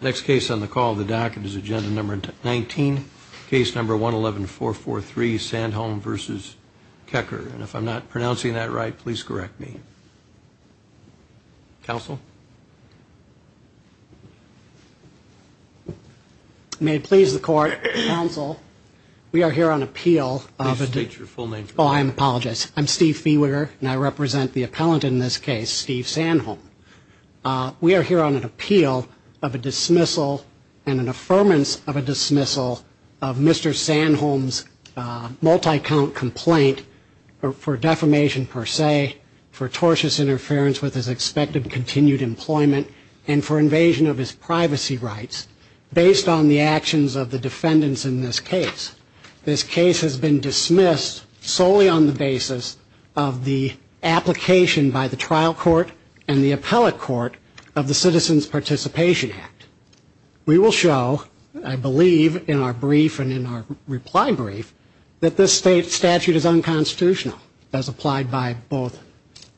Next case on the call the docket is agenda number 19 case number 111 443 Sandholm versus Kuecker and if I'm not pronouncing that right please correct me. Counsel. May it please the court counsel we are here on appeal. Please state your full name. Oh I'm apologize I'm Steve Fiewiger and I represent the appeal of a dismissal and an affirmance of a dismissal of Mr. Sandholm's multi-count complaint for defamation per se for tortious interference with his expected continued employment and for invasion of his privacy rights based on the actions of the defendants in this case. This case has been dismissed solely on the basis of the application by the trial court and the appellate court of the Citizens Participation Act. We will show I believe in our brief and in our reply brief that this state statute is unconstitutional as applied by both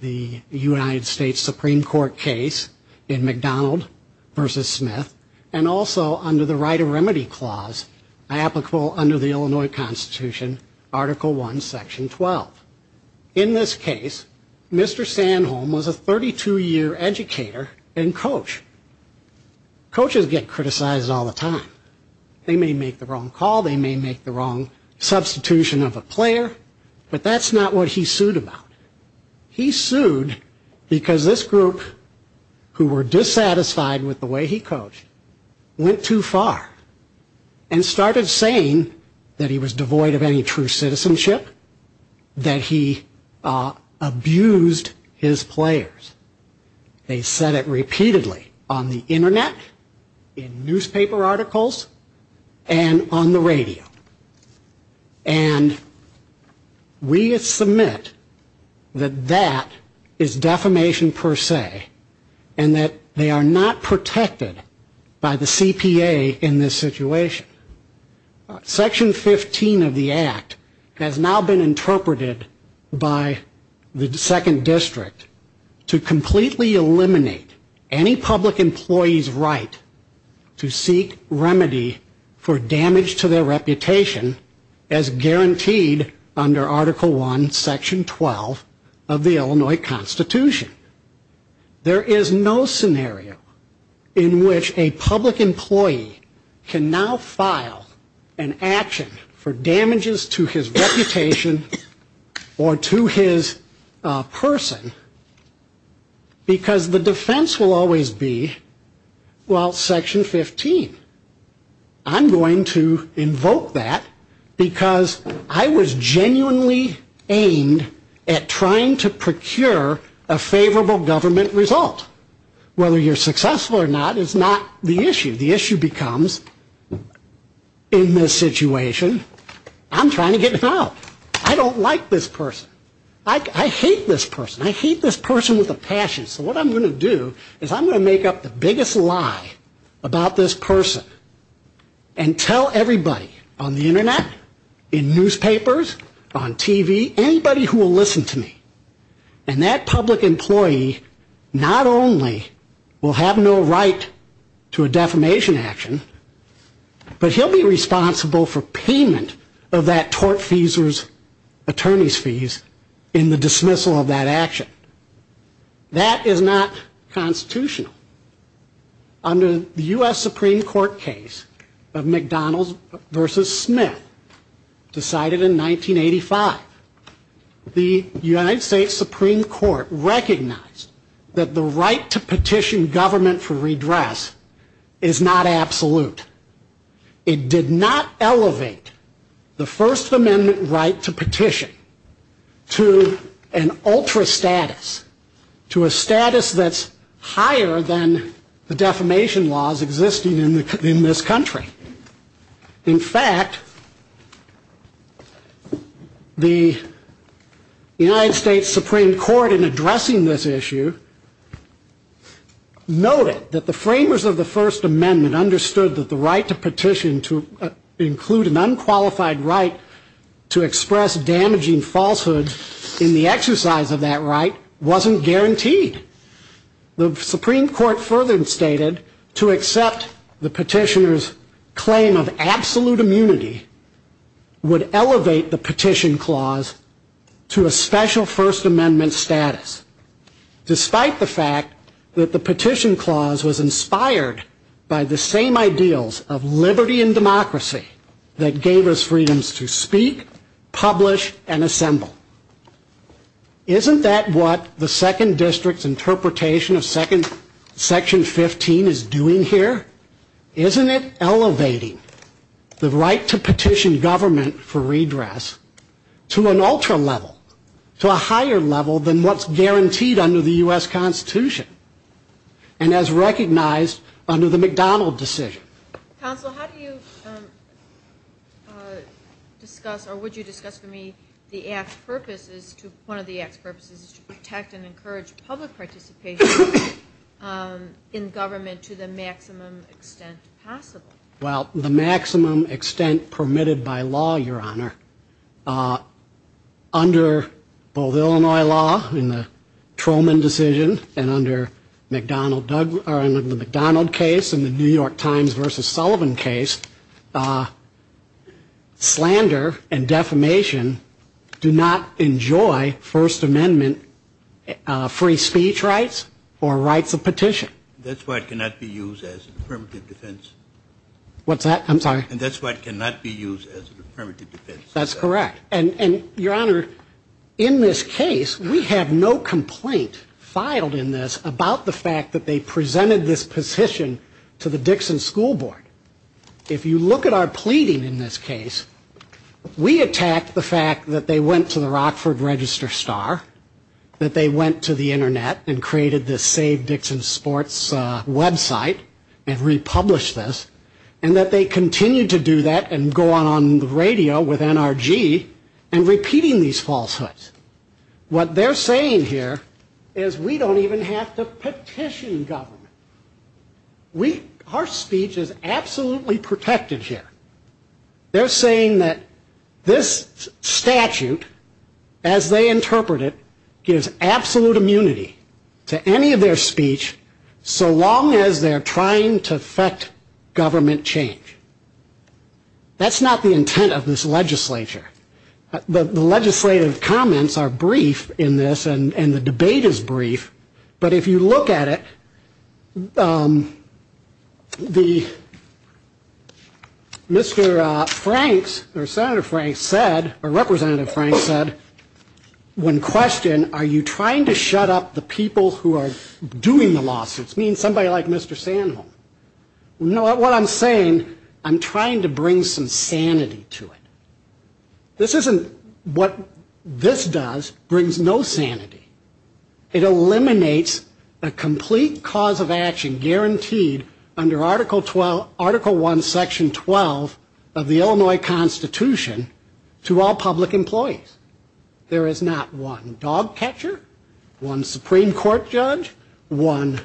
the United States Supreme Court case in McDonald versus Smith and also under the right of remedy clause applicable under the Illinois Constitution article 1 section 12. In this case Mr. Sandholm was a 32-year educator and coach. Coaches get criticized all the time. They may make the wrong call they may make the wrong substitution of a player but that's not what he sued about. He sued because this group who were dissatisfied with the way he coached went too far and he was devoid of any true citizenship that he abused his players. They said it repeatedly on the internet in newspaper articles and on the radio and we submit that that is defamation per se and that they are not protected by the CPA in this situation. Section 15 of the act has now been interpreted by the second district to completely eliminate any public employees right to seek remedy for damage to their reputation as guaranteed under article 1 section 12 of the act. There is no scenario in which a public employee can now file an action for damages to his reputation or to his person because the defense will always be well section 15. I'm going to invoke that because I was genuinely aimed at trying to procure a favorable government result. Whether you're successful or not is not the issue. The issue becomes in this situation I'm trying to get help. I don't like this person. I hate this person. I hate this person with a passion. So what I'm going to do is I'm going to make up the biggest lie about this person and tell everybody on the internet, in newspapers, on TV, anybody who will listen to me. And that public employee not only will have no right to a defamation action, but he'll be responsible for payment of that tort fees or attorney's fees in the dismissal of that action. That is not constitutional. Under the U.S. Supreme Court case of McDonald versus Smith, decided in 1985, the United States Supreme Court recognized that the right to petition government for redress is not absolute. It did not elevate the First Amendment right to petition to an ultra status, to a status that's higher than the defamation laws existing in this country. In fact, the United States Supreme Court in addressing this issue noted that the framers of the First Amendment understood that the right to petition to include an unqualified right to express damaging falsehoods in the Supreme Court further stated to accept the petitioner's claim of absolute immunity would elevate the petition clause to a special First Amendment status, despite the fact that the petition clause was inspired by the same ideals of liberty and democracy that gave us freedoms to speak, publish, and assemble. Isn't that what the second district's second section 15 is doing here? Isn't it elevating the right to petition government for redress to an ultra level, to a higher level than what's guaranteed under the U.S. Constitution and as recognized under the McDonald decision? Counsel, how do you discuss or would you discuss for me the act's purpose is to, one of the participation in government to the maximum extent possible? Well, the maximum extent permitted by law, your honor, under both Illinois law in the Truman decision and under the McDonald case and the New York Times versus Sullivan case, slander and defamation do not enjoy First Amendment free speech rights or rights of petition. That's why it cannot be used as affirmative defense. What's that? I'm sorry. And that's why it cannot be used as an affirmative defense. That's correct. And your honor, in this case, we have no complaint filed in this about the fact that they presented this petition to the Dixon School Board. If you look at our pleading in this case, we attacked the fact that they went to the Rockford Register Star, that they went to the Internet and created this Save Dixon Sports website and republished this, and that they continue to do that and go on the radio with NRG and repeating these falsehoods. What they're saying here is we don't even have to petition government. Our speech is absolutely protected here. They're saying that this statute, as they interpret it, gives absolute immunity to any of their speech so long as they're trying to effect government change. That's not the intent of this legislature. The legislative comments are brief in this, and the debate is brief. But if you look at it, Mr. Franks, or Senator Franks said, or Representative Franks said, when questioned, are you trying to shut up the people who are doing the lawsuits, meaning somebody like Mr. Sanholm? What I'm saying, I'm trying to bring some sanity to it. This isn't what this does brings no sanity. It eliminates a complete cause of action guaranteed under Article I, Section 12 of the Illinois Constitution to all public employees. There is not one dog catcher, one Supreme Court judge, one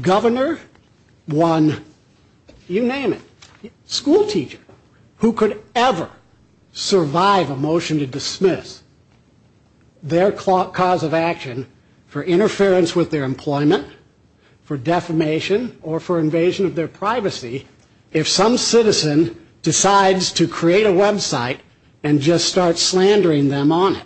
governor, one, you name it, school teacher, who could ever survive a motion to dismiss their cause of action for interference with their employment, for defamation, or for invasion of their privacy if some citizen decides to create a website and just start slandering them on it.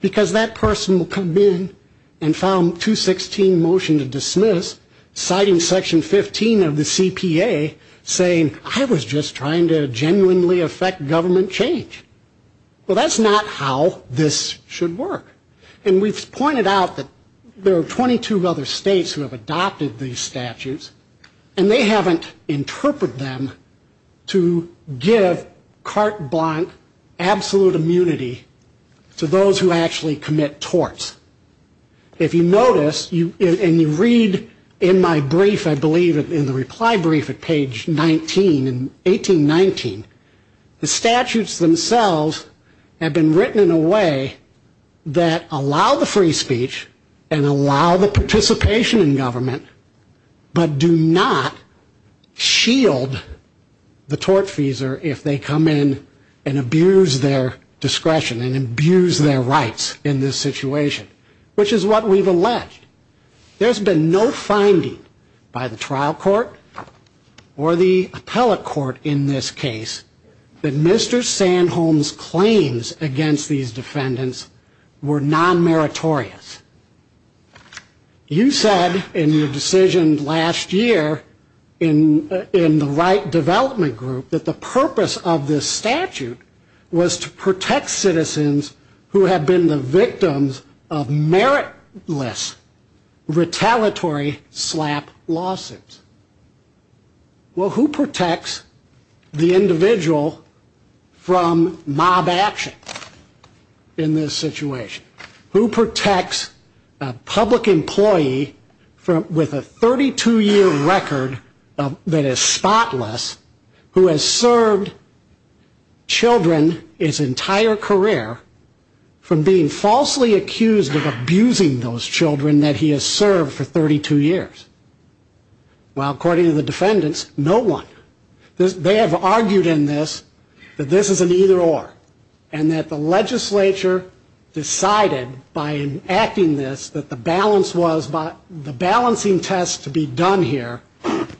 Because that person will come in and file a 216 motion to dismiss, citing Section 15 of the CPA, saying, I was just trying to genuinely effect government change. Well, that's not how this should work. And we've pointed out that there are 22 other states who have adopted these statutes, and they haven't interpreted them to give carte blanche absolute immunity to those who actually commit torts. If you notice, and you read in my brief, I believe in the reply brief at page 19 in 1819, the statutes themselves have been written in a way that allow the free speech and allow the participation in government, but do not shield the tortfeasor if they come in and abuse their discretion and abuse their rights in this situation, which is what we've alleged. There's been no finding by the trial court or the appellate court in this case that Mr. Sandholm's claims against these defendants were non-meritorious. You said in your decision last year in the right development group that the purpose of this statute was to protect citizens who had been the victims of meritless, retaliatory slap lawsuits. Well, who protects the individual from mob action in this situation? Who protects a public employee with a 32-year record that is spotless who has served children his entire career from being falsely accused of abusing those children that he has served for 32 years? Well, according to the defendants, no one. They have argued in this that this is an either-or and that the legislature decided by enacting this that the balancing test to be done here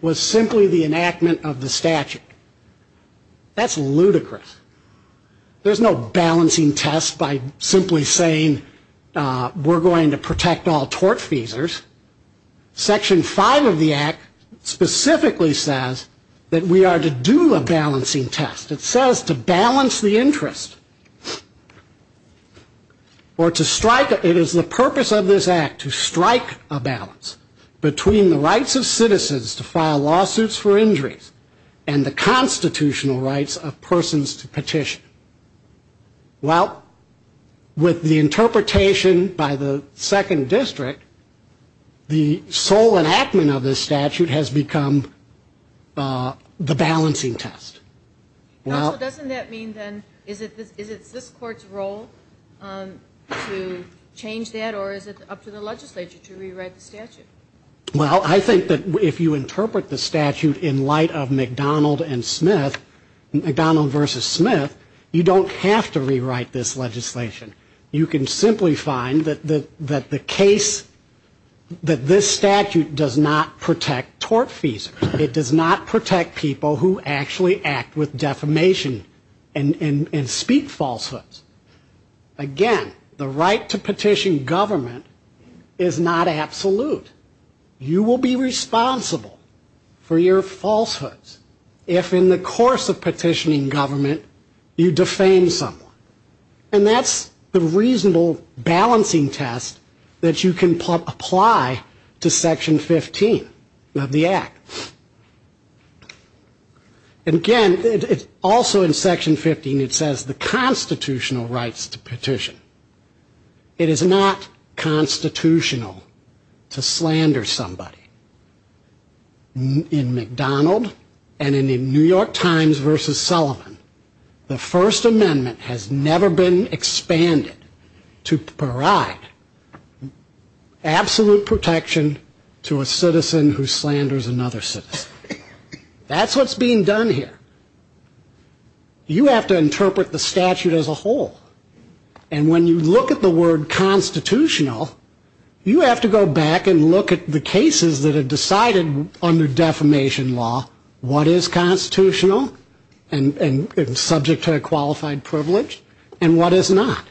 was simply the enactment of the statute. That's ludicrous. There's no balancing test by simply saying we're going to protect all tortfeasors. Section 5 of the Act specifically says that we are to do a balancing test. It says to balance the interest or to strike. It is the purpose of this Act to strike a balance between the rights of citizens to file lawsuits for injuries and the constitutional rights of persons to petition. Well, with the interpretation by the second district, the sole enactment of this statute has become the balancing test. Counsel, doesn't that mean then is it this Court's role to change that or is it up to the legislature to rewrite the statute? Well, I think that if you interpret the statute in light of McDonald and Smith, McDonald versus Smith, you don't have to rewrite this legislation. You can simply find that the case, that this statute does not protect tortfeasors. It does not protect people who actually act with defamation and speak falsehoods. Again, the right to petition government is not absolute. You will be responsible for your falsehoods. If in the course of petitioning government, you defame someone. And that's the reasonable balancing test that you can apply to Section 15 of the Act. Again, also in Section 15, it says the constitutional rights to petition. It is not constitutional to slander somebody. In McDonald and in the New York Times versus Sullivan, the First Amendment has never been expanded to provide absolute protection to a citizen who slanders another citizen. That's what's being done here. You have to interpret the statute as a whole. And when you look at the word constitutional, you have to go back and look at the cases that are decided under defamation law, what is constitutional and subject to a qualified privilege and what is not.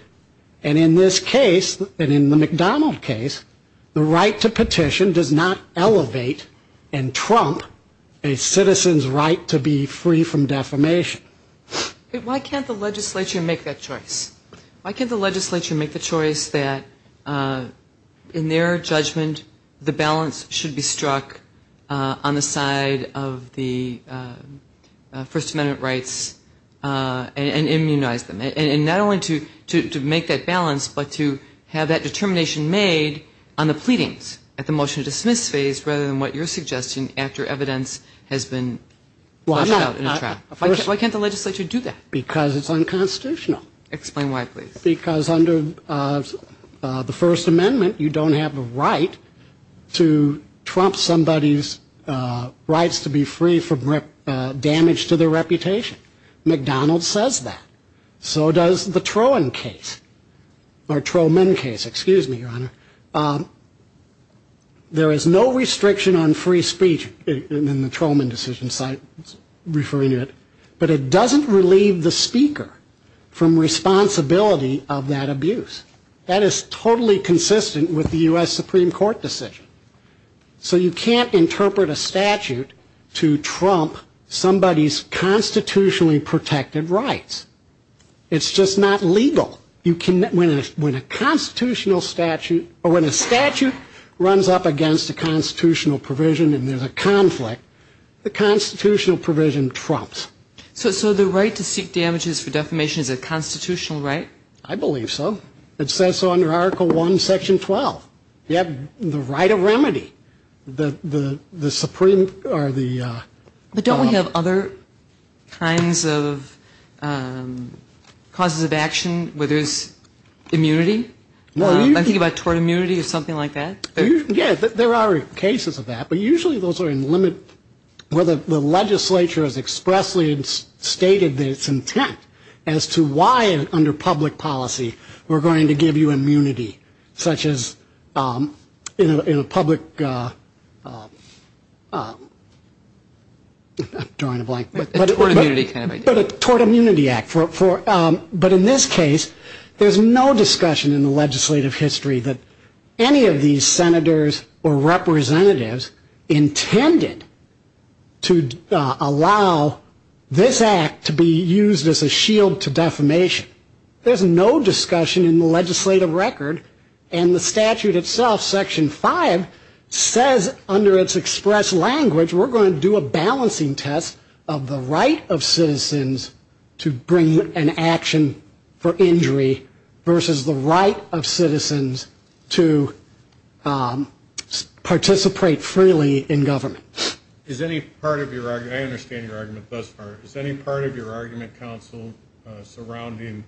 And in this case, and in the McDonald case, the right to petition does not elevate and trump a citizen's right to be free from defamation. Why can't the legislature make that choice? Why can't the legislature make the choice that in their judgment, the balance should be struck on the side of the First Amendment rights and immunize them? And not only to make that balance, but to have that determination made on the pleadings at the motion to dismiss phase rather than what you're suggesting after evidence has been pushed out in a trial. Why can't the legislature do that? Because it's unconstitutional. Explain why, please. Because under the First Amendment, you don't have a right to trump somebody's rights to be free from damage to their reputation. McDonald says that. So does the Trowman case. There is no restriction on free speech in the Trowman decision, but it doesn't relieve the speaker from responsibility of that abuse. That is totally consistent with the U.S. Supreme Court decision. So you can't interpret a statute to trump somebody's constitutionally protected rights. It's just not legal. When a statute runs up against a constitutional provision and there's a conflict, the constitutional provision trumps. So the right to seek damages for defamation is a constitutional right? I believe so. It says so under Article I, Section 12. You have the right of remedy. But don't we have other kinds of causes of action, whether it's immunity? I'm thinking about tort immunity or something like that. Yeah, there are cases of that. But usually those are in the limit where the legislature has expressly stated its intent as to why under public policy we're going to give you immunity, such as in a public ‑‑ I'm drawing a blank. A tort immunity kind of idea. But a tort immunity act. But in this case, there's no discussion in the legislative history that any of these senators or representatives intended to allow this act to be used as a shield to defamation. There's no discussion in the legislative record. And the statute itself, Section 5, says under its express language we're going to do a balancing test of the right of citizens to bring an action for injury versus the right of citizens to participate freely in government. I understand your argument thus far. Is any part of your argument, counsel, surrounding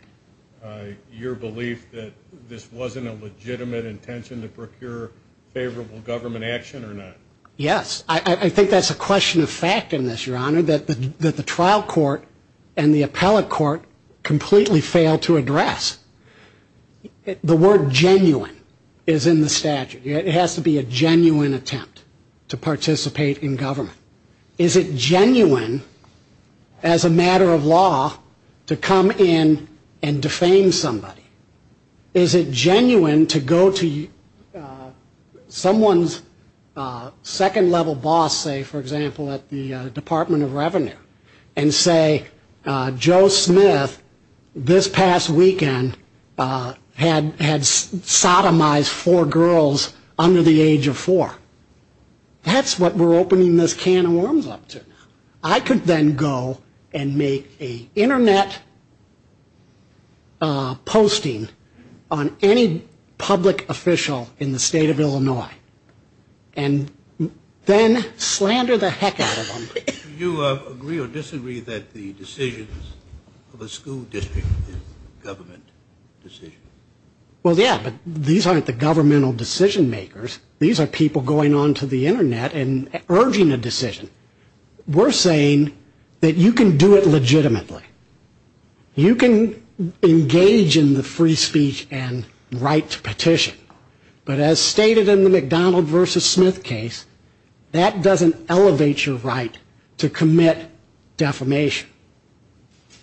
your belief that this wasn't a legitimate intention to procure favorable government action or not? Yes. I think that's a question of fact in this, your honor, that the trial court and the appellate court completely failed to address. The word genuine is in the statute. It has to be a genuine attempt to participate in government. Is it genuine as a matter of law to come in and defame somebody? Is it genuine to go to someone's second-level boss, say, for example, at the Department of Revenue, and say Joe Smith this past weekend had sodomized four girls under the age of four? That's what we're opening this can of worms up to. I could then go and make an Internet posting on any public official in the state of Illinois and then slander the heck out of them. Do you agree or disagree that the decisions of a school district is government decisions? Well, yeah, but these aren't the governmental decision-makers. These are people going onto the Internet and urging a decision. We're saying that you can do it legitimately. You can engage in the free speech and right to petition. But as stated in the McDonald v. Smith case, that doesn't elevate your right to commit defamation.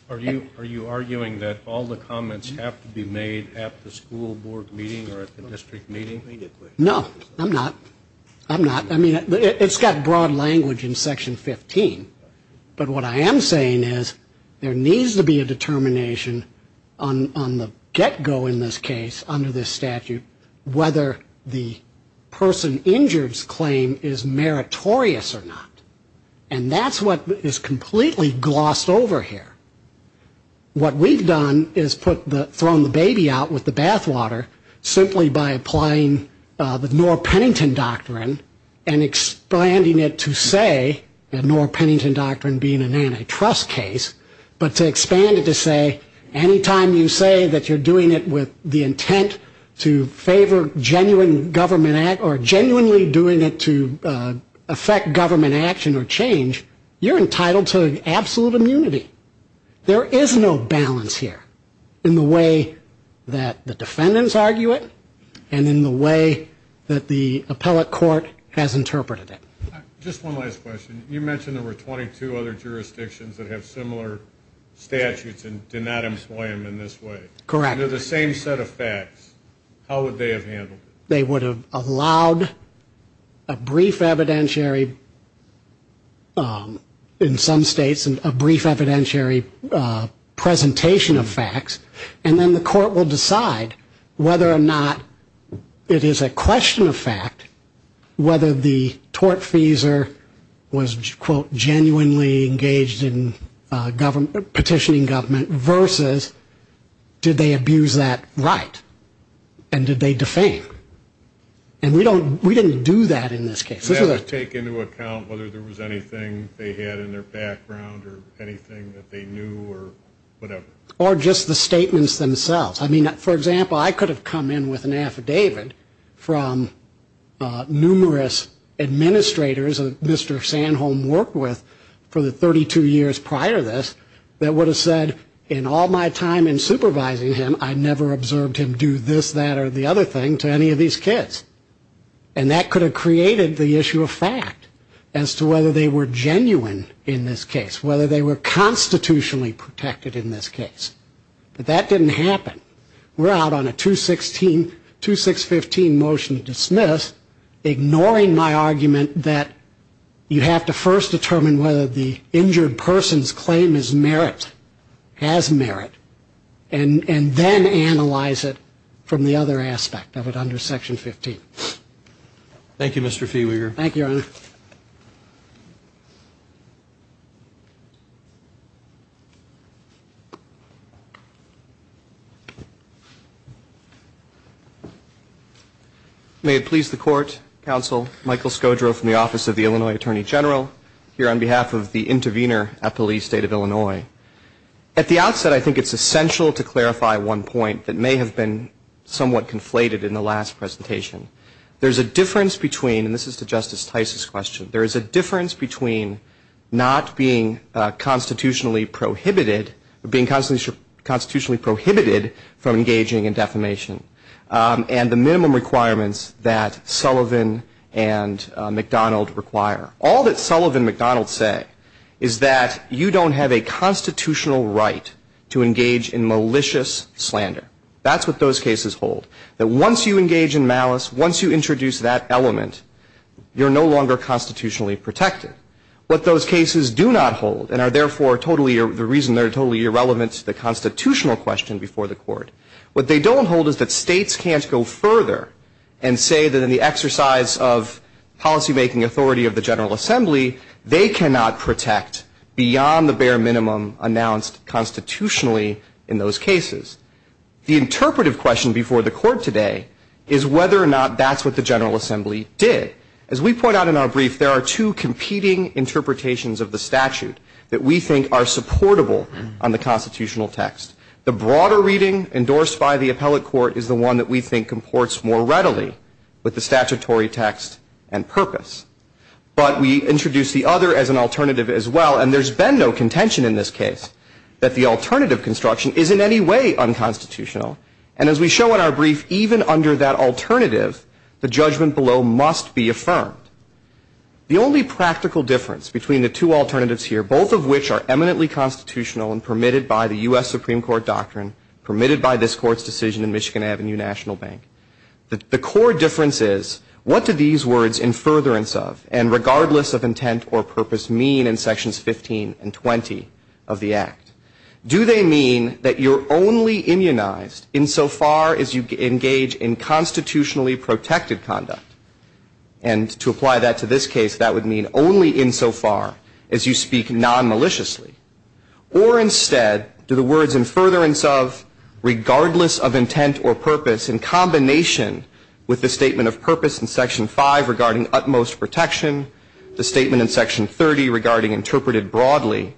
Are you arguing that all the comments have to be made at the school board meeting or at the district meeting? No, I'm not. I'm not. I mean, it's got broad language in Section 15. But what I am saying is there needs to be a determination on the get-go in this case under this statute whether the person injured's claim is meritorious or not. And that's what is completely glossed over here. What we've done is thrown the baby out with the bathwater simply by applying the Norr-Pennington Doctrine and expanding it to say, and Norr-Pennington Doctrine being an antitrust case, but to expand it to say any time you say that you're doing it with the intent to favor genuine government act There is no balance here in the way that the defendants argue it and in the way that the appellate court has interpreted it. Just one last question. You mentioned there were 22 other jurisdictions that have similar statutes and do not employ them in this way. Correct. They're the same set of facts. How would they have handled it? They would have allowed a brief evidentiary, in some states, a brief evidentiary presentation of facts, and then the court will decide whether or not it is a question of fact whether the tortfeasor was, quote, genuinely engaged in petitioning government versus did they abuse that right and did they defame? And we don't, we didn't do that in this case. Does that take into account whether there was anything they had in their background or anything that they knew or whatever? Or just the statements themselves. I mean, for example, I could have come in with an affidavit from numerous administrators that Mr. Sanholm worked with for the 32 years prior to this that would have said, in all my time in supervising him, I never observed him do this, that, or the other thing to any of these kids. And that could have created the issue of fact as to whether they were genuine in this case, whether they were constitutionally protected in this case. But that didn't happen. We're out on a 216, 2615 motion to dismiss, ignoring my argument that you have to first determine whether the injured person's claim is merit, has merit. And then analyze it from the other aspect of it under Section 15. Thank you, Mr. Feeweeger. Thank you, Your Honor. May it please the Court, Counsel Michael Scodro from the Office of the Illinois Attorney General, here on behalf of the intervener at Police State of Illinois. At the outset, I think it's essential to clarify one point that may have been somewhat conflated in the last presentation. There's a difference between, and this is to Justice Tice's question, there is a difference between not being constitutionally prohibited, being constitutionally prohibited from engaging in defamation, and the minimum requirements that Sullivan and McDonald require. All that Sullivan and McDonald say is that you don't have a constitutional right to engage in malicious slander. That's what those cases hold. That once you engage in malice, once you introduce that element, you're no longer constitutionally protected. What those cases do not hold, and are therefore totally, the reason they're totally irrelevant to the constitutional question before the Court, what they don't hold is that states can't go further and say that in the exercise of policymaking authority of the General Assembly, they cannot protect beyond the bare minimum announced constitutionally in those cases. The interpretive question before the Court today is whether or not that's what the General Assembly did. As we point out in our brief, there are two competing interpretations of the statute that we think are supportable on the constitutional text. The broader reading endorsed by the appellate court is the one that we think imports more readily with the statutory text and purpose. But we introduce the other as an alternative as well, and there's been no contention in this case that the alternative construction is in any way unconstitutional. And as we show in our brief, even under that alternative, the judgment below must be affirmed. The only practical difference between the two alternatives here, both of which are eminently constitutional and permitted by the U.S. Supreme Court doctrine, permitted by this Court's decision in Michigan Avenue National Bank, the core difference is what do these words, in furtherance of and regardless of intent or purpose, mean in Sections 15 and 20 of the Act? Do they mean that you're only immunized insofar as you engage in constitutionally protected conduct? And to apply that to this case, that would mean only insofar as you speak nonmaliciously. Or instead, do the words, in furtherance of, regardless of intent or purpose, in combination with the statement of purpose in Section 5 regarding utmost protection, the statement in Section 30 regarding interpreted broadly,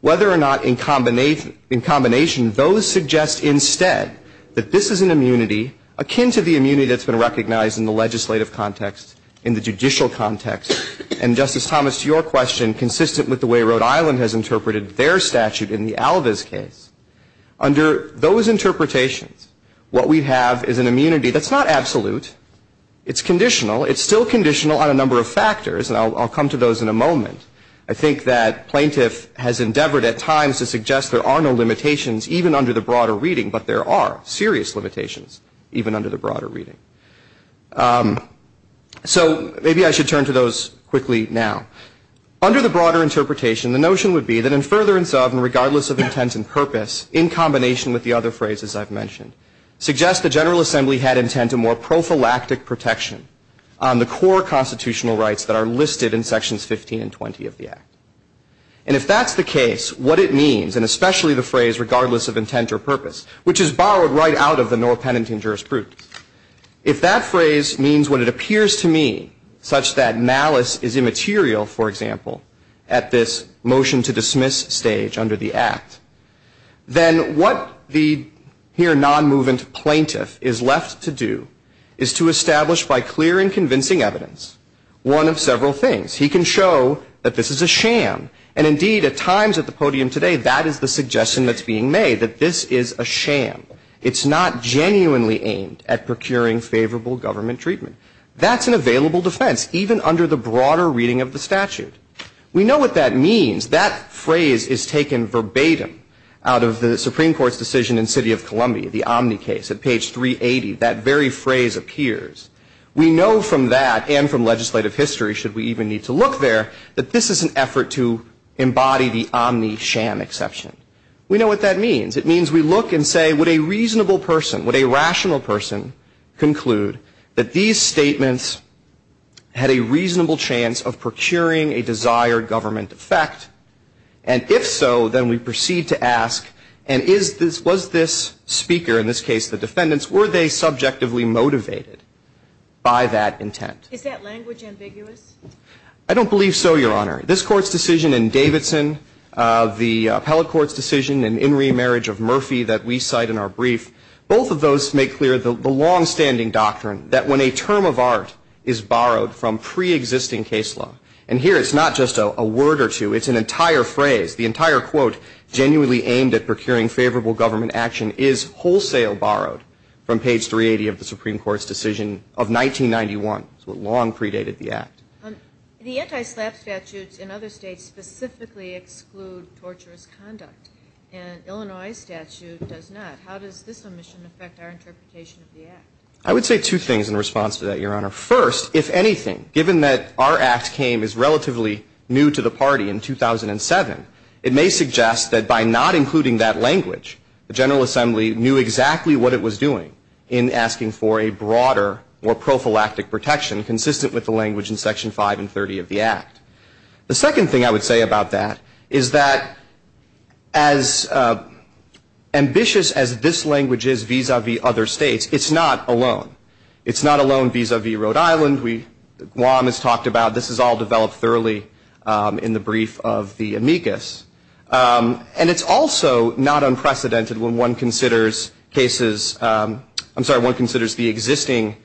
whether or not in combination, those suggest instead that this is an immunity akin to the immunity that's been recognized in the legislative context, in the judicial context. And, Justice Thomas, to your question, consistent with the way Rhode Island has interpreted their statute in the Alaviz case, under those interpretations, what we have is an immunity that's not absolute. It's conditional. It's still conditional on a number of factors, and I'll come to those in a moment. I think that plaintiff has endeavored at times to suggest there are no limitations even under the broader reading, but there are serious limitations even under the broader reading. So maybe I should turn to those quickly now. Under the broader interpretation, the notion would be that, in furtherance of, and regardless of intent and purpose, in combination with the other phrases I've mentioned, suggests the General Assembly had intent to more prophylactic protection on the core constitutional rights that are listed in Sections 15 and 20 of the Act. And if that's the case, what it means, and especially the phrase regardless of intent or purpose, which is borrowed right out of the nor penitent jurisprudence. If that phrase means what it appears to me, such that malice is immaterial, for example, at this motion-to-dismiss stage under the Act, then what the here nonmovent plaintiff is left to do is to establish by clear and convincing evidence one of several things. He can show that this is a sham. And indeed, at times at the podium today, that is the suggestion that's being made, that this is a sham. It's not genuinely aimed at procuring favorable government treatment. That's an available defense, even under the broader reading of the statute. We know what that means. That phrase is taken verbatim out of the Supreme Court's decision in the City of Columbia, the Omni case at page 380. That very phrase appears. We know from that and from legislative history, should we even need to look there, that this is an effort to embody the Omni sham exception. We know what that means. It means we look and say, would a reasonable person, would a rational person conclude that these statements had a reasonable chance of procuring a desired government effect? And if so, then we proceed to ask, and was this speaker, in this case the defendants, were they subjectively motivated by that intent? Is that language ambiguous? I don't believe so, Your Honor. This Court's decision in Davidson, the appellate court's decision in In Re Marriage of Murphy that we cite in our brief, both of those make clear the longstanding doctrine that when a term of art is borrowed from pre-existing case law, and here it's not just a word or two, it's an entire phrase, the entire quote, genuinely aimed at procuring favorable government action is wholesale borrowed from page 380 of the Supreme Court's decision of 1991. It's what long predated the act. The anti-SLAPP statutes in other states specifically exclude torturous conduct, and Illinois statute does not. How does this omission affect our interpretation of the act? I would say two things in response to that, Your Honor. First, if anything, given that our act came as relatively new to the party in 2007, it may suggest that by not including that language, the General Assembly knew exactly what it was doing in asking for a broader, more prophylactic protection consistent with the language in Section 5 and 30 of the act. The second thing I would say about that is that as ambitious as this language is vis-à-vis other states, it's not alone. It's not alone vis-à-vis Rhode Island. Guam is talked about. This is all developed thoroughly in the brief of the amicus. And it's also not unprecedented when one considers cases, I'm sorry, one considers the existing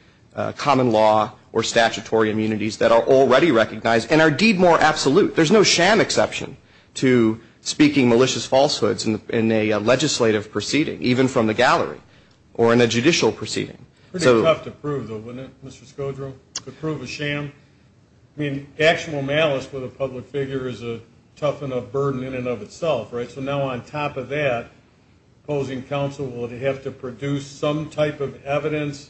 common law or statutory immunities that are already recognized and are deed more absolute. There's no sham exception to speaking malicious falsehoods in a legislative proceeding, even from the gallery, or in a judicial proceeding. Pretty tough to prove, though, wouldn't it, Mr. Scodro? To prove a sham? I mean, actual malice with a public figure is a tough enough burden in and of itself, right? So now on top of that, opposing counsel will have to produce some type of evidence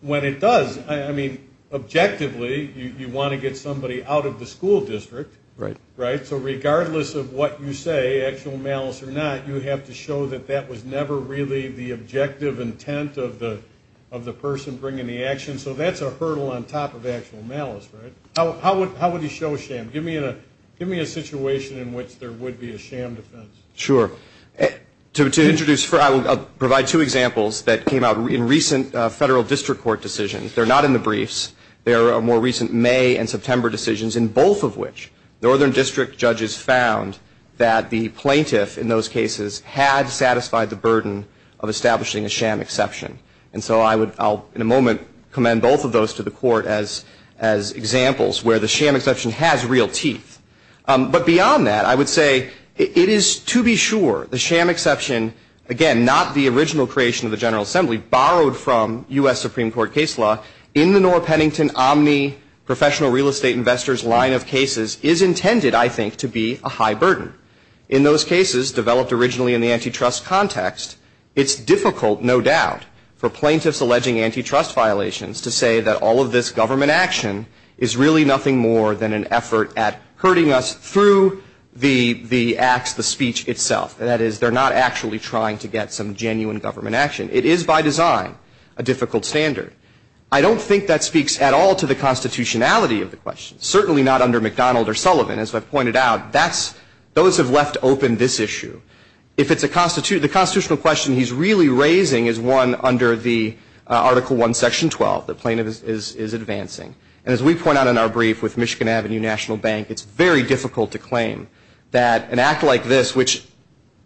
when it does. I mean, objectively, you want to get somebody out of the school district, right? So regardless of what you say, actual malice or not, you have to show that that was never really the objective intent of the person bringing the action. So that's a hurdle on top of actual malice, right? How would you show a sham? Give me a situation in which there would be a sham defense. Sure. To introduce, I'll provide two examples that came out in recent federal district court decisions. They're not in the briefs. They're more recent May and September decisions, in both of which northern district judges found that the plaintiff in those cases had satisfied the burden of establishing a sham exception. And so I would, I'll in a moment commend both of those to the court as examples where the sham exception has real teeth. But beyond that, I would say it is to be sure the sham exception, again, not the original creation of the General Assembly, borrowed from U.S. Supreme Court case law in the Nora Pennington Omni Professional Real Estate Investors line of cases is intended, I think, to be a high burden. In those cases, developed originally in the antitrust context, it's difficult, no doubt, for plaintiffs alleging antitrust violations to say that all of this government action is really nothing more than an effort at herding us through the acts, the speech itself. That is, they're not actually trying to get some genuine government action. It is by design a difficult standard. I don't think that speaks at all to the constitutionality of the question. Certainly not under McDonald or Sullivan, as I've pointed out. Those have left open this issue. The constitutional question he's really raising is one under the Article I, Section 12 that plaintiffs is advancing. And as we point out in our brief with Michigan Avenue National Bank, it's very difficult to claim that an act like this, which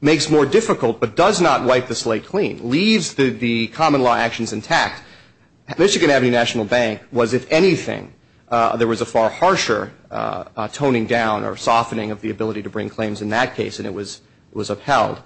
makes more difficult but does not wipe the slate clean, leaves the common law actions intact. Michigan Avenue National Bank was, if anything, there was a far harsher toning down or softening of the ability to bring claims in that case, and it was upheld.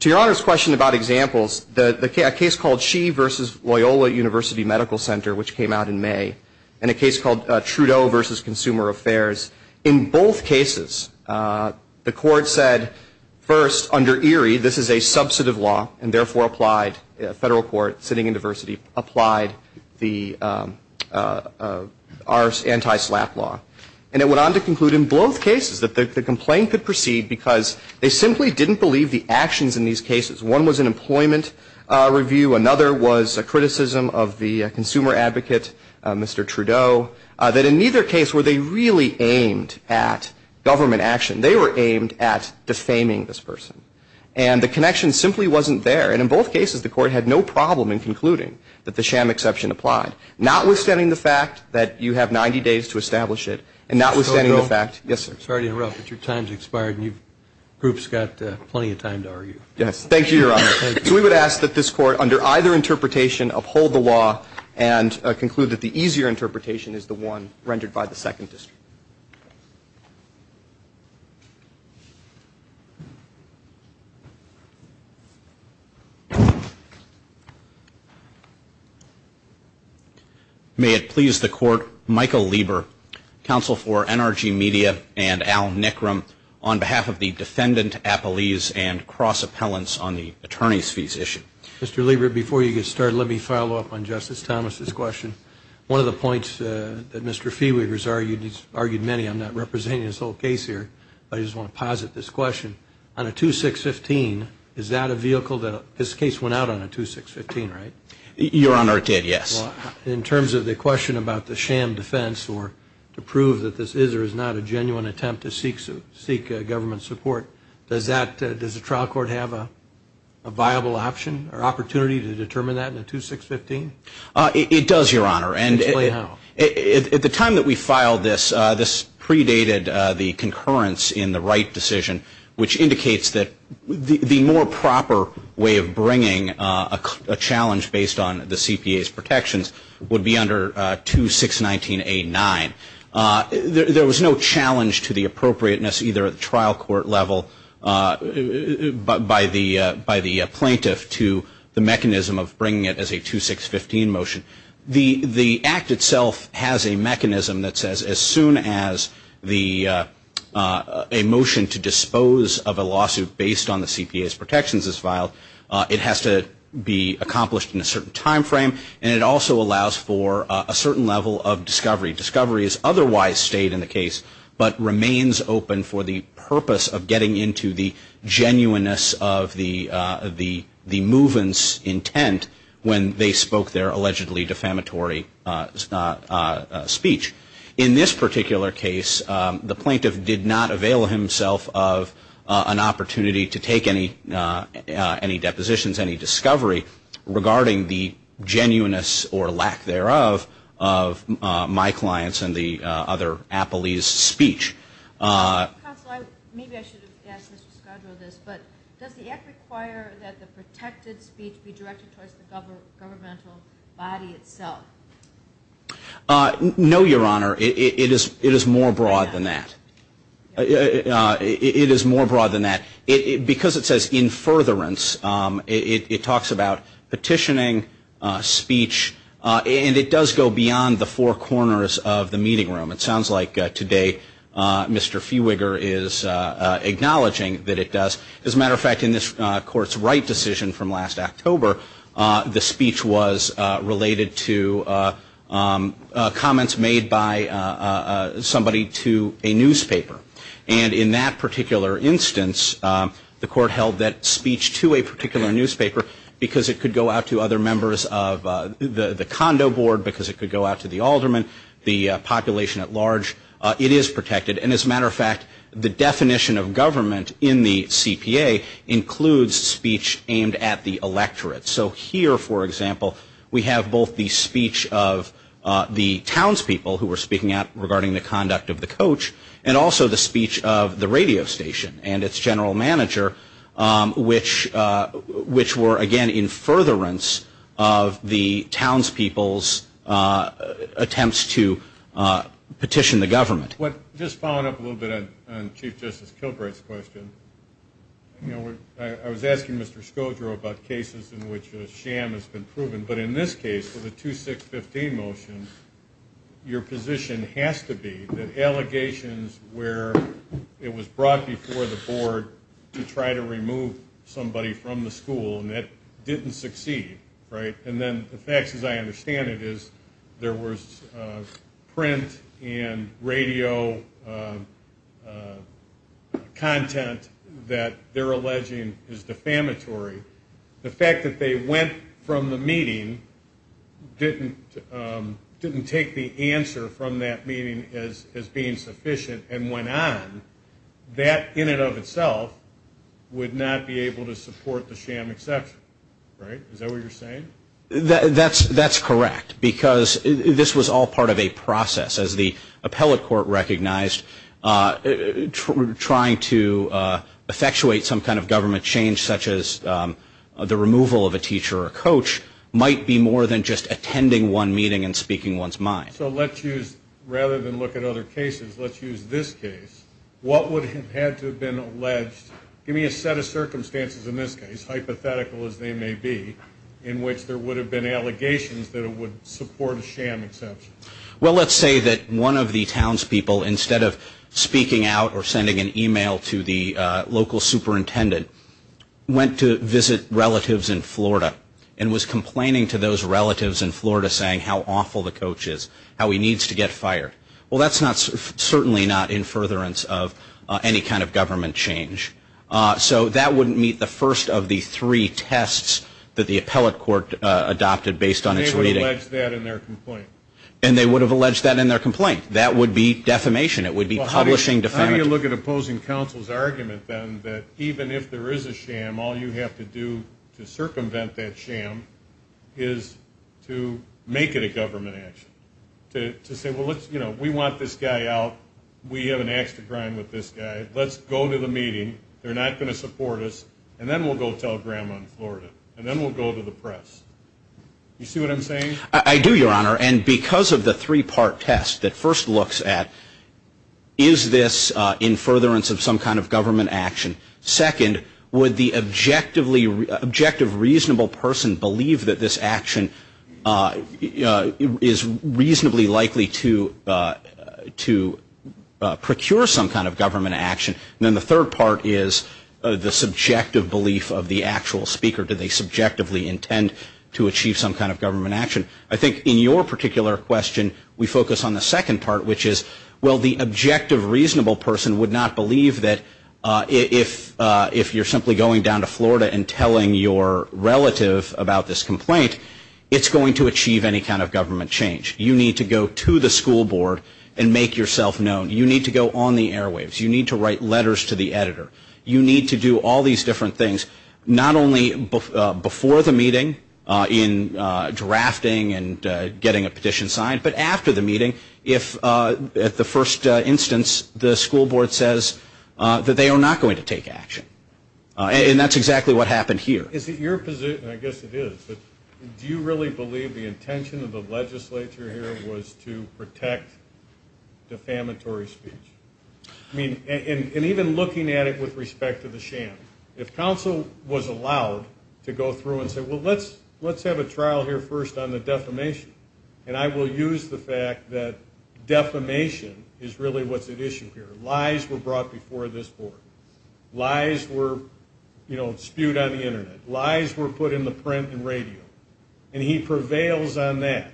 To Your Honor's question about examples, a case called She v. Loyola University Medical Center, which came out in May, and a case called Trudeau v. Consumer Affairs, in both cases, the court said, first, under Erie, this is a substantive law, and therefore applied, a federal court sitting in diversity applied our anti-slap law. And it went on to conclude in both cases that the complaint could proceed because they simply didn't believe the actions in these cases. One was an employment review. Another was a criticism of the consumer advocate, Mr. Trudeau, that in neither case were they really aimed at government action. They were aimed at defaming this person. And the connection simply wasn't there. And in both cases, the court had no problem in concluding that the sham exception applied, notwithstanding the fact that you have 90 days to establish it, and notwithstanding the fact. Yes, sir. Sorry to interrupt, but your time's expired, and your group's got plenty of time to argue. Yes. Thank you, Your Honor. We would ask that this court, under either interpretation, uphold the law and conclude that the easier interpretation is the one rendered by the Second District. May it please the court, Michael Lieber, counsel for NRG Media and Al Nickram, on behalf of the defendant, Apeliz, and cross-appellants on the attorney's fees issue. Mr. Lieber, before you get started, let me follow up on Justice Thomas's question. One of the points that Mr. Feeweaver's argued, he's argued many, I'm not representing his whole case here, but I just want to posit this question. On a 2615, is that a vehicle that in terms of the question about the sham defense or to prove that this is or is not a genuine attempt to seek government support, does the trial court have a viable option or opportunity to determine that in a 2615? It does, Your Honor. Explain how. At the time that we filed this, this predated the concurrence in the Wright decision, which indicates that the more proper way of bringing these motions would be under 2619A9. There was no challenge to the appropriateness either at the trial court level by the plaintiff to the mechanism of bringing it as a 2615 motion. The act itself has a mechanism that says as soon as based on the CPA's protections is filed, it has to be accomplished and also allows for a certain level of discovery. Discovery is otherwise stayed in the case but remains open for the purpose of getting into the genuineness of the movement's intent when they spoke their allegedly defamatory speech. In this particular case, the plaintiff did not avail himself of an opportunity to take any depositions, any discovery or lack thereof of my clients and the other appellees' speech. Maybe I should have asked Mr. Scodro this, but does the act require that the protected speech be directed towards the governmental body itself? No, Your Honor. It is more broad than that. It is more broad than that. Because it says in furtherance, it talks about and it does go beyond the four corners of the meeting room. It sounds like today Mr. Fiewiger is acknowledging that it does. As a matter of fact, in this Court's right decision from last October, the speech was related to comments made by somebody to a newspaper. And in that particular instance, the Court held that speech to a particular newspaper because it could go out to the condo board, because it could go out to the alderman, the population at large. It is protected. And as a matter of fact, the definition of government in the CPA includes speech aimed at the electorate. So here, for example, we have both the speech of the townspeople who were speaking out regarding the conduct of the coach and also the speech of the radio station and its general manager, which were, again, in furtherance of the townspeople's attempts to petition the government. Just following up a little bit on Chief Justice Kilbright's question, I was asking Mr. Skodro about cases in which sham has been proven, but in this case, for the 2615 motion, your position has to be that allegations where it was brought before the board to try to remove somebody from the school, and that didn't succeed, right? And then the facts, as I understand it, is there was print and radio content that they're alleging is defamatory. The fact that they went from the meeting didn't take the answer from that meeting as being sufficient and went on, that in and of itself would not be able to support the sham exception, right? Is that what you're saying? That's correct because this was all part of a process. As the appellate court recognized, trying to effectuate some kind of government change such as the removal of a teacher or a coach might be more than just attending one meeting and speaking one's mind. So let's use, rather than look at other cases, let's use this case. What would have had to have been alleged? Give me a set of circumstances in this case, hypothetical as they may be, in which there would have been allegations that it would support a sham exception. Well, let's say that one of the townspeople, instead of speaking out or sending an email to the local superintendent, went to visit relatives in Florida and was complaining to those relatives in Florida saying how awful the coach is, how he needs to get fired. Well, that's certainly not in furtherance of any kind of government change. So that wouldn't meet the first of the three tests that the appellate court adopted based on its reading. And they would have alleged that in their complaint? And they would have alleged that in their complaint. That would be defamation. It would be publishing defamatory. How do you look at opposing counsel's argument, then, that even if there is a sham, all you have to do to circumvent that sham is to make it a government action? To say, well, we want this guy out. We have an axe to grind with this guy. Let's go to the meeting. They're not going to support us. And then we'll go tell Grandma in Florida. And then we'll go to the press. You see what I'm I do, Your Honor. And because of the three-part test that first looks at, is this in furtherance of some kind of government action? Second, would the objective reasonable person believe that this action is reasonably likely to procure some kind of government action? And then the third part is the subjective belief of the actual speaker. Do they subjectively intend to achieve some kind of government action? I think in your particular question, we focus on the second part, which is, well, the objective reasonable person would not believe that if you're simply going down to Florida and telling your relative about this complaint, it's going to achieve any kind of government change. You need to go to the school board and make yourself known. You need to go on the airwaves. You need to write letters to the editor. You need to do all these different things, not only before the meeting in drafting and getting a petition signed, but after the meeting, if at the first instance the school board says that they are not going to take action. And that's exactly what happened here. Is it your position, I guess it is, do you really believe the intention of the legislature here was to protect defamatory speech? And even looking at it with respect to the sham, if counsel was allowed to go through and say, well, let's have a trial here first on the issue of defamation. And I will use the fact that defamation is really what's at issue here. Lies were brought before this board. Lies were, you know, spewed on the internet. Lies were put in the print and radio. And he prevails on that,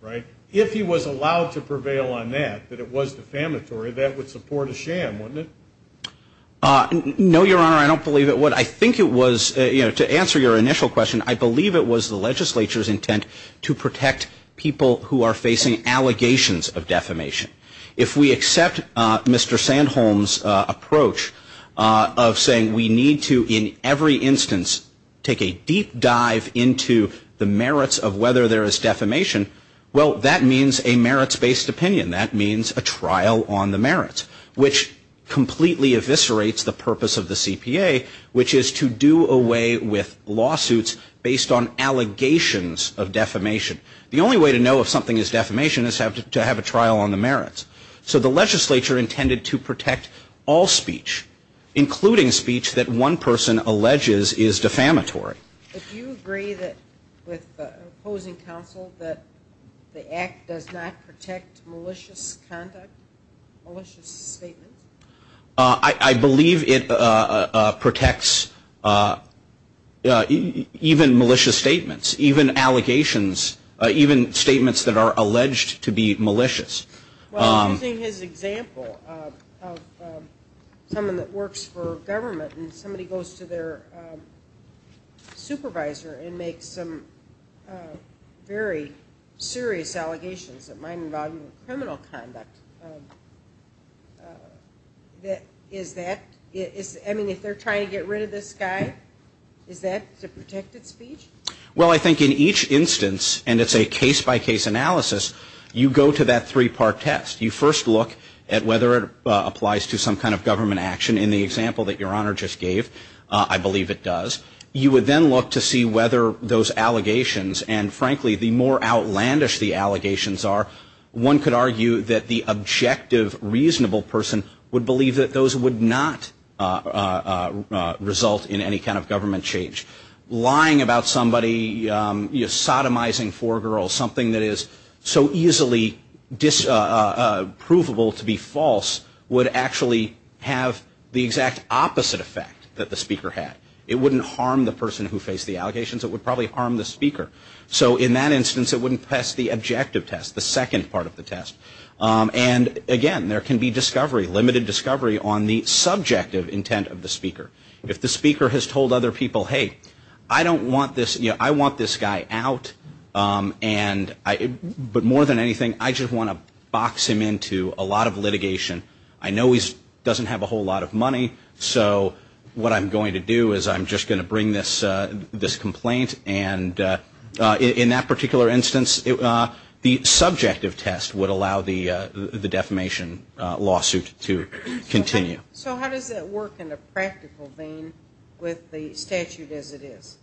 right? If he was allowed to prevail on that, that it was defamatory, that would support a sham, wouldn't it? No, Your Honor, I don't believe it would. I think it was, you know, to answer your initial question, I believe it was the legislature's intent to protect people who are facing allegations of defamation. If we accept Mr. Sandholm's approach of saying we need to in every instance take a deep dive into the merits of whether there is defamation, well, that means a merits-based opinion. That means a trial on the merits, which completely eviscerates the purpose of the CPA, which is to do away with lawsuits based on allegations of defamation. The only way to know if something is defamation is to have a trial on the merits. So the issue of defamation is defamatory. If you agree with opposing counsel that the Act does not protect malicious conduct, malicious statements? I believe it protects even malicious statements, even allegations, even statements that are alleged to be malicious. Well, using his example of someone that works for government and somebody that goes to their supervisor and makes some very serious allegations that might involve criminal conduct, is that I mean, if they're trying to get rid of this guy, is that a protected speech? Well, I think in each instance, and it's a case-by-case analysis, you go to that three-part test. You first look at whether it applies to some kind of government action in the example that Your Honor just gave. I believe it does. You would then look to see whether those allegations and, frankly, the more outlandish the allegations are, one could argue that the objective reasonable person would believe that those would not result in any kind of government change. Lying about somebody sodomizing four girls, something that is so easily provable to be false would actually have the exact opposite effect that the speaker had. It wouldn't harm the person who faced the allegations. And, again, there can be discovery, limited discovery, on the subjective intent of the speaker. If the speaker has told other people, hey, I want this guy out, but more than anything I just want to box him into a lot of litigation. I know he doesn't have a lawyer, so what I'm going to do is I'm just going to bring this complaint and in that particular instance the subjective test would allow the defamation lawsuit to continue. So how does that work in a practical vein with the statute as it is?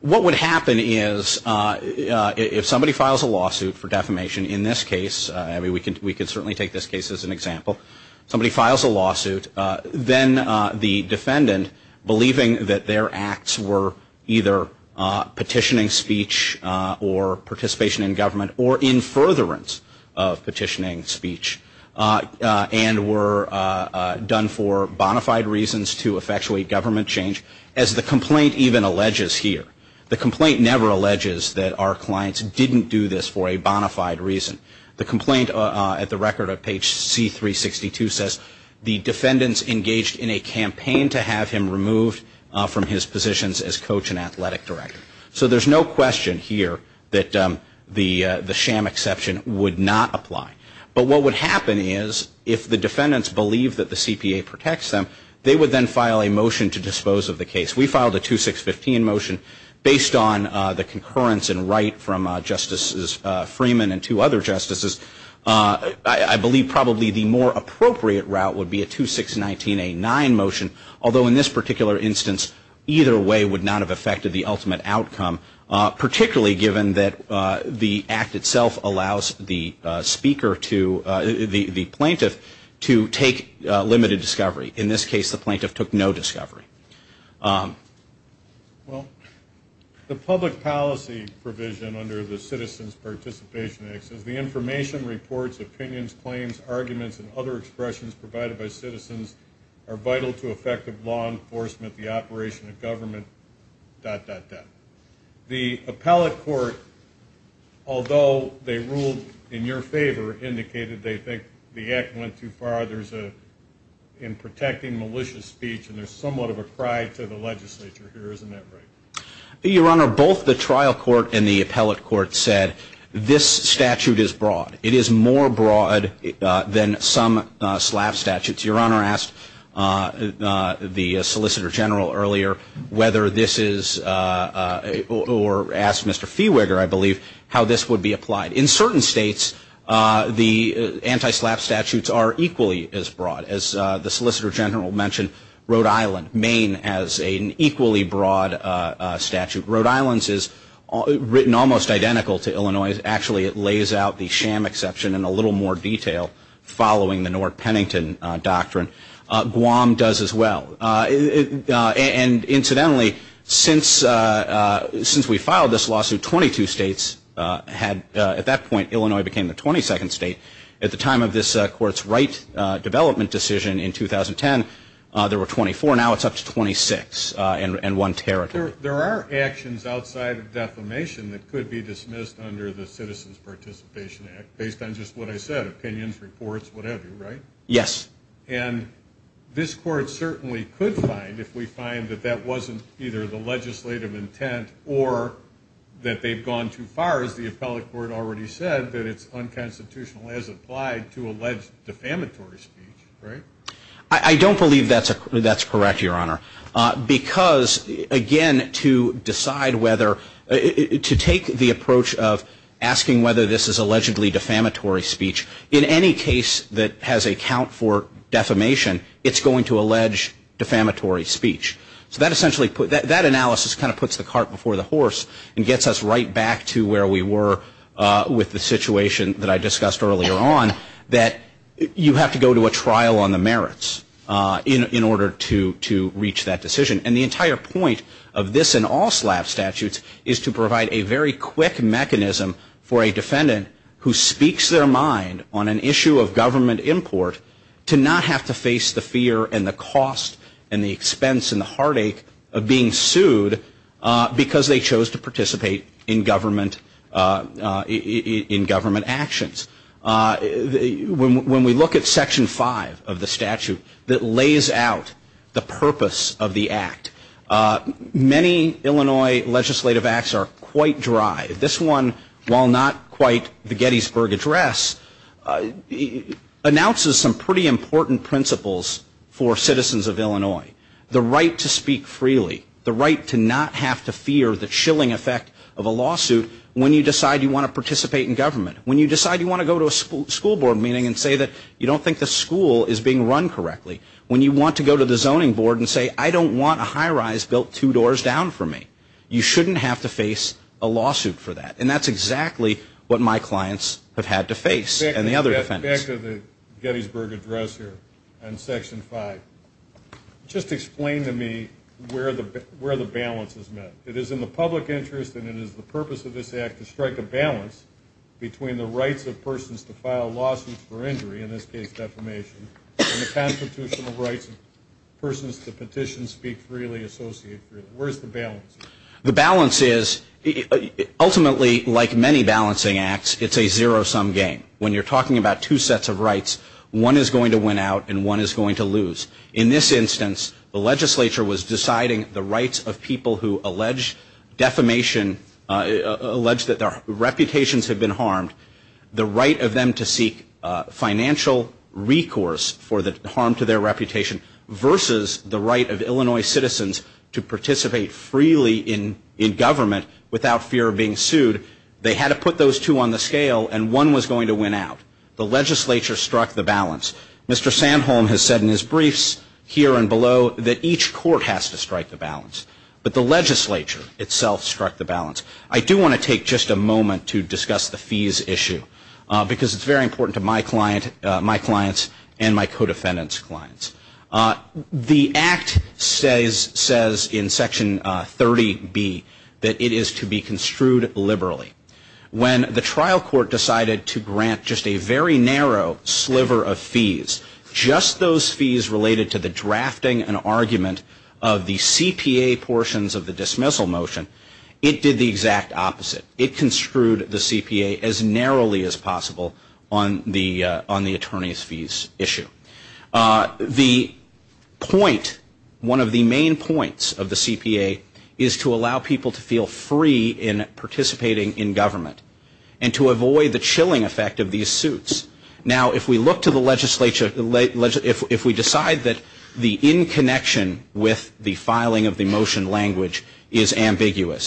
What would happen is if somebody files a lawsuit for defamation, in this case, I mean we can certainly take this case as an example, somebody files a lawsuit, then the defendant believing that their acts were either petitioning speech or participation in government or in furtherance of petitioning speech, and were done for bona fide reasons to effectuate government change, as the complaint even alleges here. The complaint never alleges that our clients didn't do this for a bona fide reason. The complaint at the record at page C-362 says the defendants engaged in a campaign to have him removed from his positions as coach and athletic director. So there's no question here that the sham exemption would not apply. But what would happen is, if the defendants believe that the CPA protects them, they would then file a motion to dispose of the case. We filed a 2615 motion based on the concurrence and right from Justices Freeman and two other Justices. I believe probably the more appropriate route would be a 2619A9 motion, although in this particular instance, either way would not have affected the ultimate outcome, particularly given that the Act itself allows the plaintiff to take limited discovery. In this case, the plaintiff took no discovery. Well, the public policy provision under the Act the rights of citizens are vital to effective law enforcement, the operation of government, dot, dot, dot. The appellate court, although they ruled in your favor, indicated they think the Act went too far in protecting malicious speech. And there's somewhat of a cry to the legislature here, isn't that right? Your Honor, both the trial court and the appellate court said this statute is broad. It is more broad than some slap statutes. Your Honor asked the Solicitor General earlier whether this is a or asked Mr. Fiewiger, I believe, how this would be applied. In certain states, the anti-slap statutes are equally as broad. As the Solicitor General mentioned, Rhode Island, Maine, has an equally broad statute. Rhode Island's is written almost identical to Illinois. Actually, it lays out the sham exception in a little more detail following the North Pennington doctrine. Guam does as well. And incidentally, since we filed this lawsuit, 22 states had at that point Illinois became the 22nd state. At the time of this court's right development decision in 2010, there were 24. Now it's up to 26 in one territory. There are actions outside of defamation that could be dismissed under the Citizens Participation Act based on just what I said, opinions, reports, whatever, right? Yes. And this court certainly could find, if we find that that wasn't either the legislative intent or that they've gone too far, as the appellate court already said, that it's unconstitutional as applied to alleged defamatory speech, right? I don't believe that's correct, Your Honor, because, again, to decide whether, to take the approach of asking whether this is allegedly defamatory speech, in any case that has a count for defamation, it's going to allege defamatory speech. So that essentially, that analysis kind of puts the cart before the horse and gets us right back to where we were with the situation that I discussed earlier on, that you have to go to a trial on the merits in order to reach that decision. And the entire point of this and all SLAP statutes is to get the public heartache of being sued because they chose to participate in government actions. When we look at Section 5 of the statute that lays out the purpose of the act, many Illinois legislative acts are quite dry. This one, while not quite the Gettysburg address, announces some pretty important principles for citizens of Illinois. The right to speak freely. The right to not have to fear the chilling effect of a lawsuit when you decide you want to participate in government. When you decide you want to go to a school board meeting and say you don't think the school is being very good. When you decide you don't think the school have to fear the chilling effect of a lawsuit when you decide you want to go to a school board meeting and say you don't think the school is being very good. When you decide you want to go to a school board meeting and don't fear the a lawsuit when you decide you want to go to a school board meeting and say you don't think the school have to fear the chilling effect of a lawsuit when you decide go to a fear the effect of lawsuit when you decide you don't want to go to a school board meeting and don't fear the chilling effect of a lawsuit when the trial court decided to grant a narrow sliver of fees just those fees related to the drafting and argument of the C.P.A. portions of the dismissal motion it did the exact opposite the motion of the government and to avoid the chilling effect of these suits now if we look to the legislature if we decide that the in connection with the filing of the motion language is a very narrow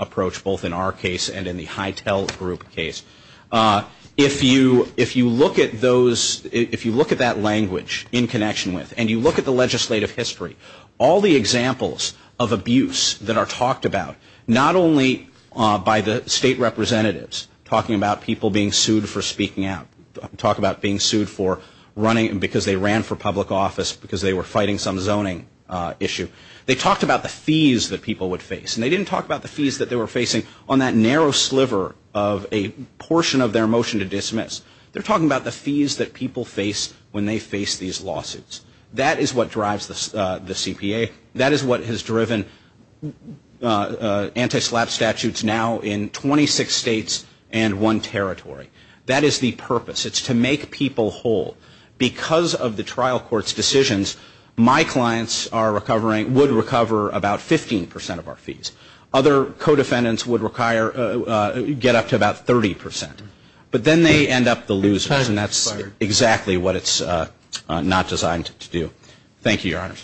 approach both in our case and in the Hytel group case if you look at that language in connection with and you look at the legislative history all the examples of abuse that are talked about not only by the state representatives talking about people being sued for speaking out talk about being sued for running because they ran for public office because they were fighting some zoning issue they talked about the fees that people would face and they didn't talk about the fees that they were facing on that narrow sliver of a portion of their motion to dismiss they're talking about the fees that people face when they face these lawsuits that is what drives the CPA that is what has driven anti-slap statutes now in 26 states and one territory that is the purpose it's to make people aware state is not going to have the feasible hold because of the trial court's decisions my clients would recover 15 percent fees other codependents would get up to 30 percent but then they end up the losers and that's exactly what it's not designed to do thank you your honor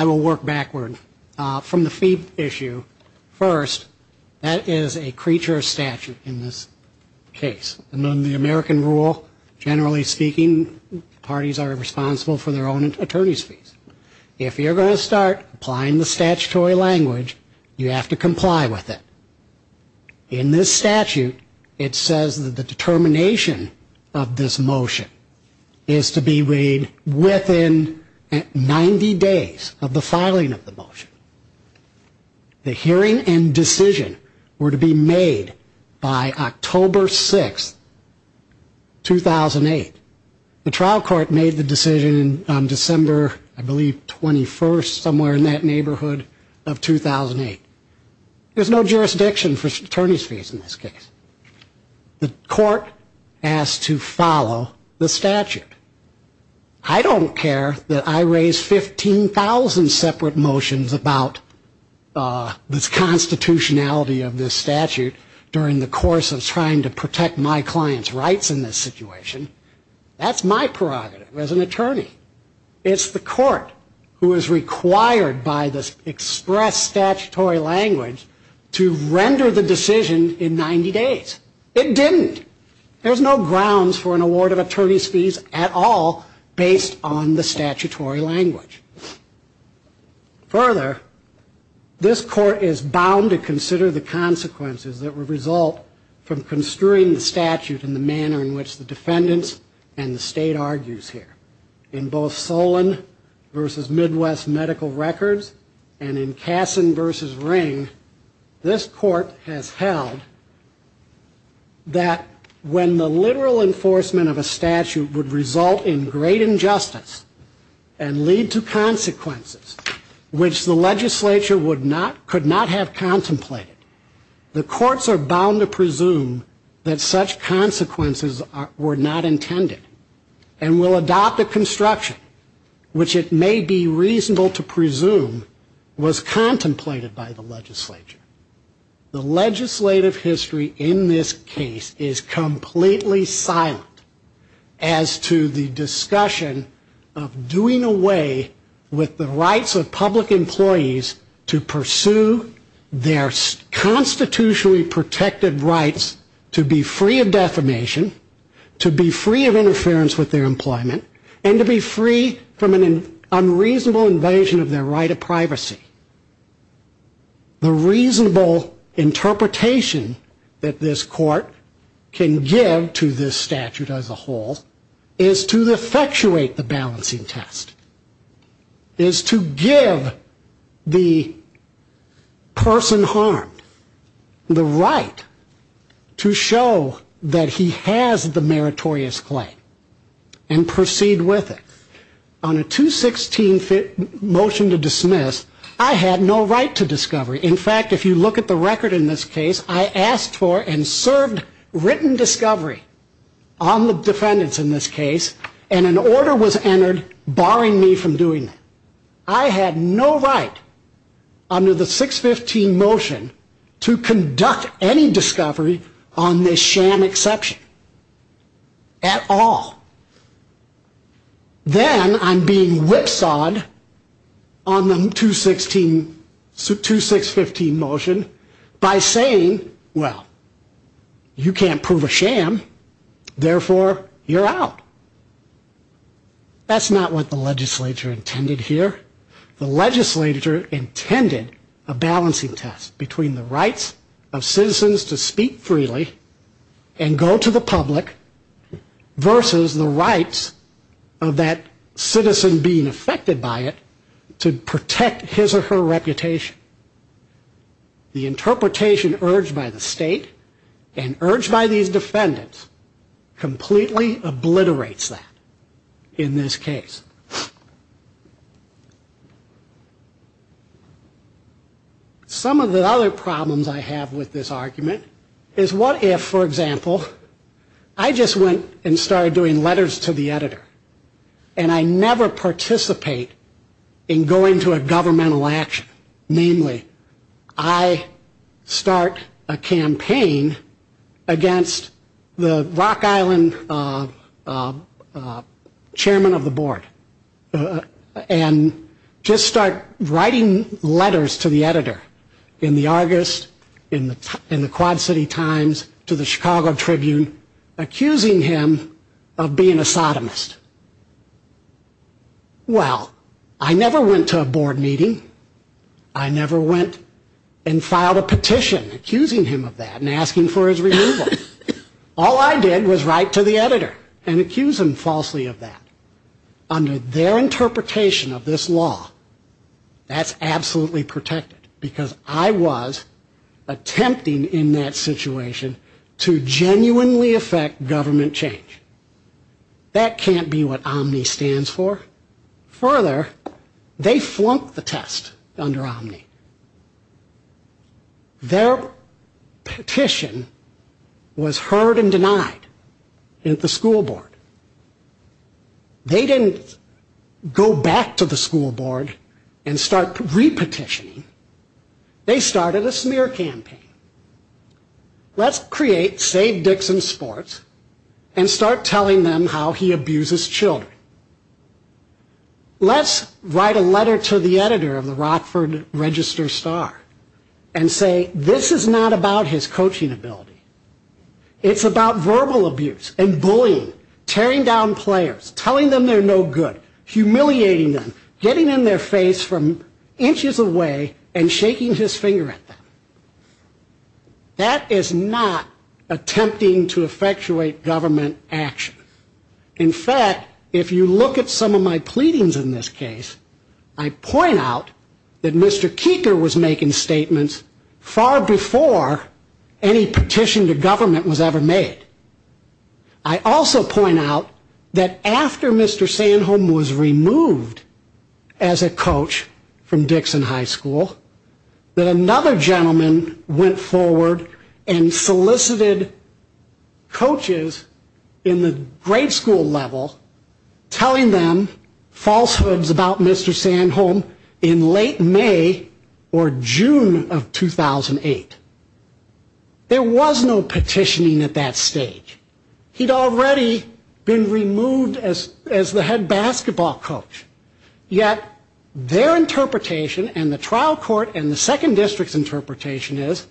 I will work backward from the fee issue first that is a creature of statute in this case and on the American rule generally speaking parties are responsible for their own attorney's fees if you're going to start applying the statutory language you have to comply with it in this statute it says that the determination of this motion is to be made within 90 days of the filing of the motion the hearing and decision were to be made by October 6 2008 the trial court made the decision on December I believe 21st somewhere in that neighborhood of 2008 there's no jurisdiction for attorney's fees in this case the court has to follow the statute I don't care that I raise 15,000 separate motions about this constitutionality of this statute during the course of trying to protect my client's rights in this situation that's my prerogative as an attorney it's the court who is required by this express statutory language to render the decision in 90 days it didn't there's no grounds for an award of attorney's fees at all based on the statutory language further this court is bound to consider the consequences that would result from construing the statute in the manner in which the defendants and the state argues here in both Solon versus Midwest Medical Records and in Kasson versus Ring this court has held that when the literal enforcement of a statute would result in great injustice and lead to consequences which the legislature could not have contemplated the courts are bound to presume that such consequences were not intended and will adopt the construction which it may be reasonable to presume was contemplated by the legislature the legislative history in this case is completely silent as to the discussion of doing away with the rights of public employees to pursue their constitutionally protected rights to be free of defamation to be free of interference with their employment and to be free from an unreasonable invasion of their right of privacy the reasonable interpretation that this court can give to this statute as a whole is to effectuate the balancing test is to give the person harmed the right to show that he has the meritorious claim and proceed with it on a 216 motion to dismiss I had no right to discovery in fact if you look at the record in this case I asked for and served written discovery on the defendants in this case and an order was entered barring me from doing that I had no right under the 615 motion to conduct any discovery on this sham exception at all then I'm being whipsawed on the 216 2615 motion by saying well you can't prove a sham therefore you're out that's not what the legislature intended here the legislature intended a balancing test between the rights of citizens to speak freely and go to the public versus the rights of that citizen being affected by it to protect his or her reputation the interpretation urged by the state and urged by these defendants completely obliterates that in this case some of the other problems I have with this argument is what if for example I just went and started doing letters to the editor and I never participate in going to a governmental action namely I start a campaign against the Rock Island chairman of the board and just start writing letters to the editor in the Argus in the Quad City Times to the Chicago Tribune accusing him of being a sodomist well I never went to a board meeting I never went and filed a petition accusing him of that and asking for his removal all I did was write to the editor and accuse him falsely of that under their interpretation of this law that's absolutely protected because I was attempting in that situation to genuinely affect government change that can't be what Omni stands for further they flunked the test under Omni their petition was heard and denied at the school board they didn't go back to the school board and start re-petitioning they started a smear campaign let's create Save Dixon Sports and start telling them how he abuses children let's write a letter to the editor of the Rockford Register Star and say this is not about his coaching ability it's about verbal abuse and bullying tearing down players telling them they're no good humiliating them getting in their face from inches away and shaking his finger at them that is not attempting to effectuate government action in fact if you look at some of my pleadings in this case I point out that Mr. Keeker was making statements far before any petition to government was ever made I also point out that after Mr. Sandholm was removed as a coach from Dixon High School that another gentleman went forward and solicited coaches in the grade school level telling them falsehoods about Mr. Sandholm in late May or June of 2008 there was no petitioning at that stage he'd already been removed as the head basketball coach yet their interpretation and the trial court and the second district's interpretation is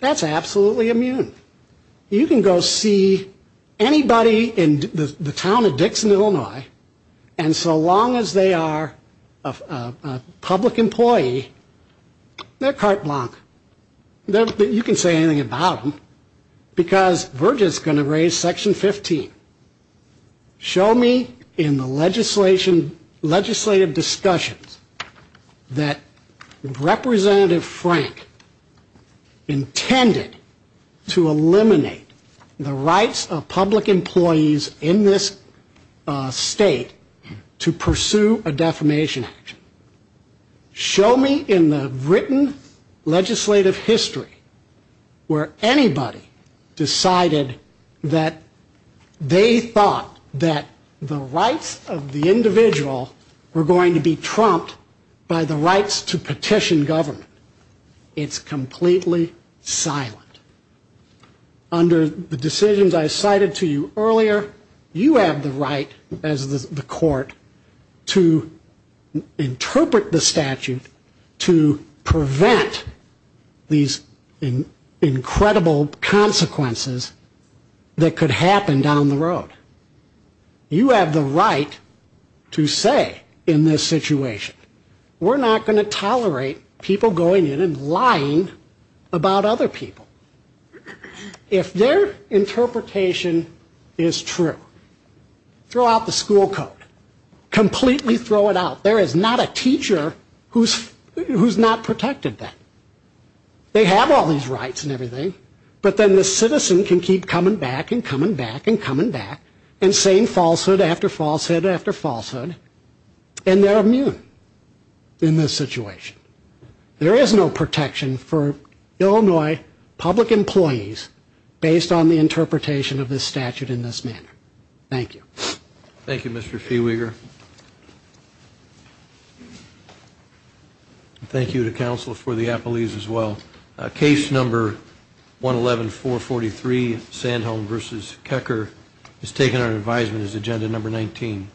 that's absolutely immune you can go see anybody in the town of Dixon, Illinois and so long as they are a public employee they're carte blanche you can say anything about them because we're just going to raise section 15 show me in the legislation legislative discussions that Representative Frank intended to eliminate the rights of public employees in this state to pursue a defamation action show me in the written legislative history where anybody decided that they thought that the rights of the individual were going to be trumped by the rights to petition government it's completely silent under the decisions I cited to you earlier you have the right as the court to interpret the statute to prevent these incredible consequences that could happen down the road you have the right to say in this situation we're not going to tolerate people going in and lying about other people if their interpretation is true throw out the school code completely throw it out there is not a teacher who's not protected then they have all these rights and everything but then the citizen can keep coming back and coming back and coming back and saying falsehood after falsehood after falsehood and they're immune in this situation there is no protection for Illinois public employees based on the interpretation of the statute in this manner thank you thank you Mr. Feweger thank you to counsel for the appellees as well case number 111443 Sandholm vs. Kecker is taken under advisement as agenda number 19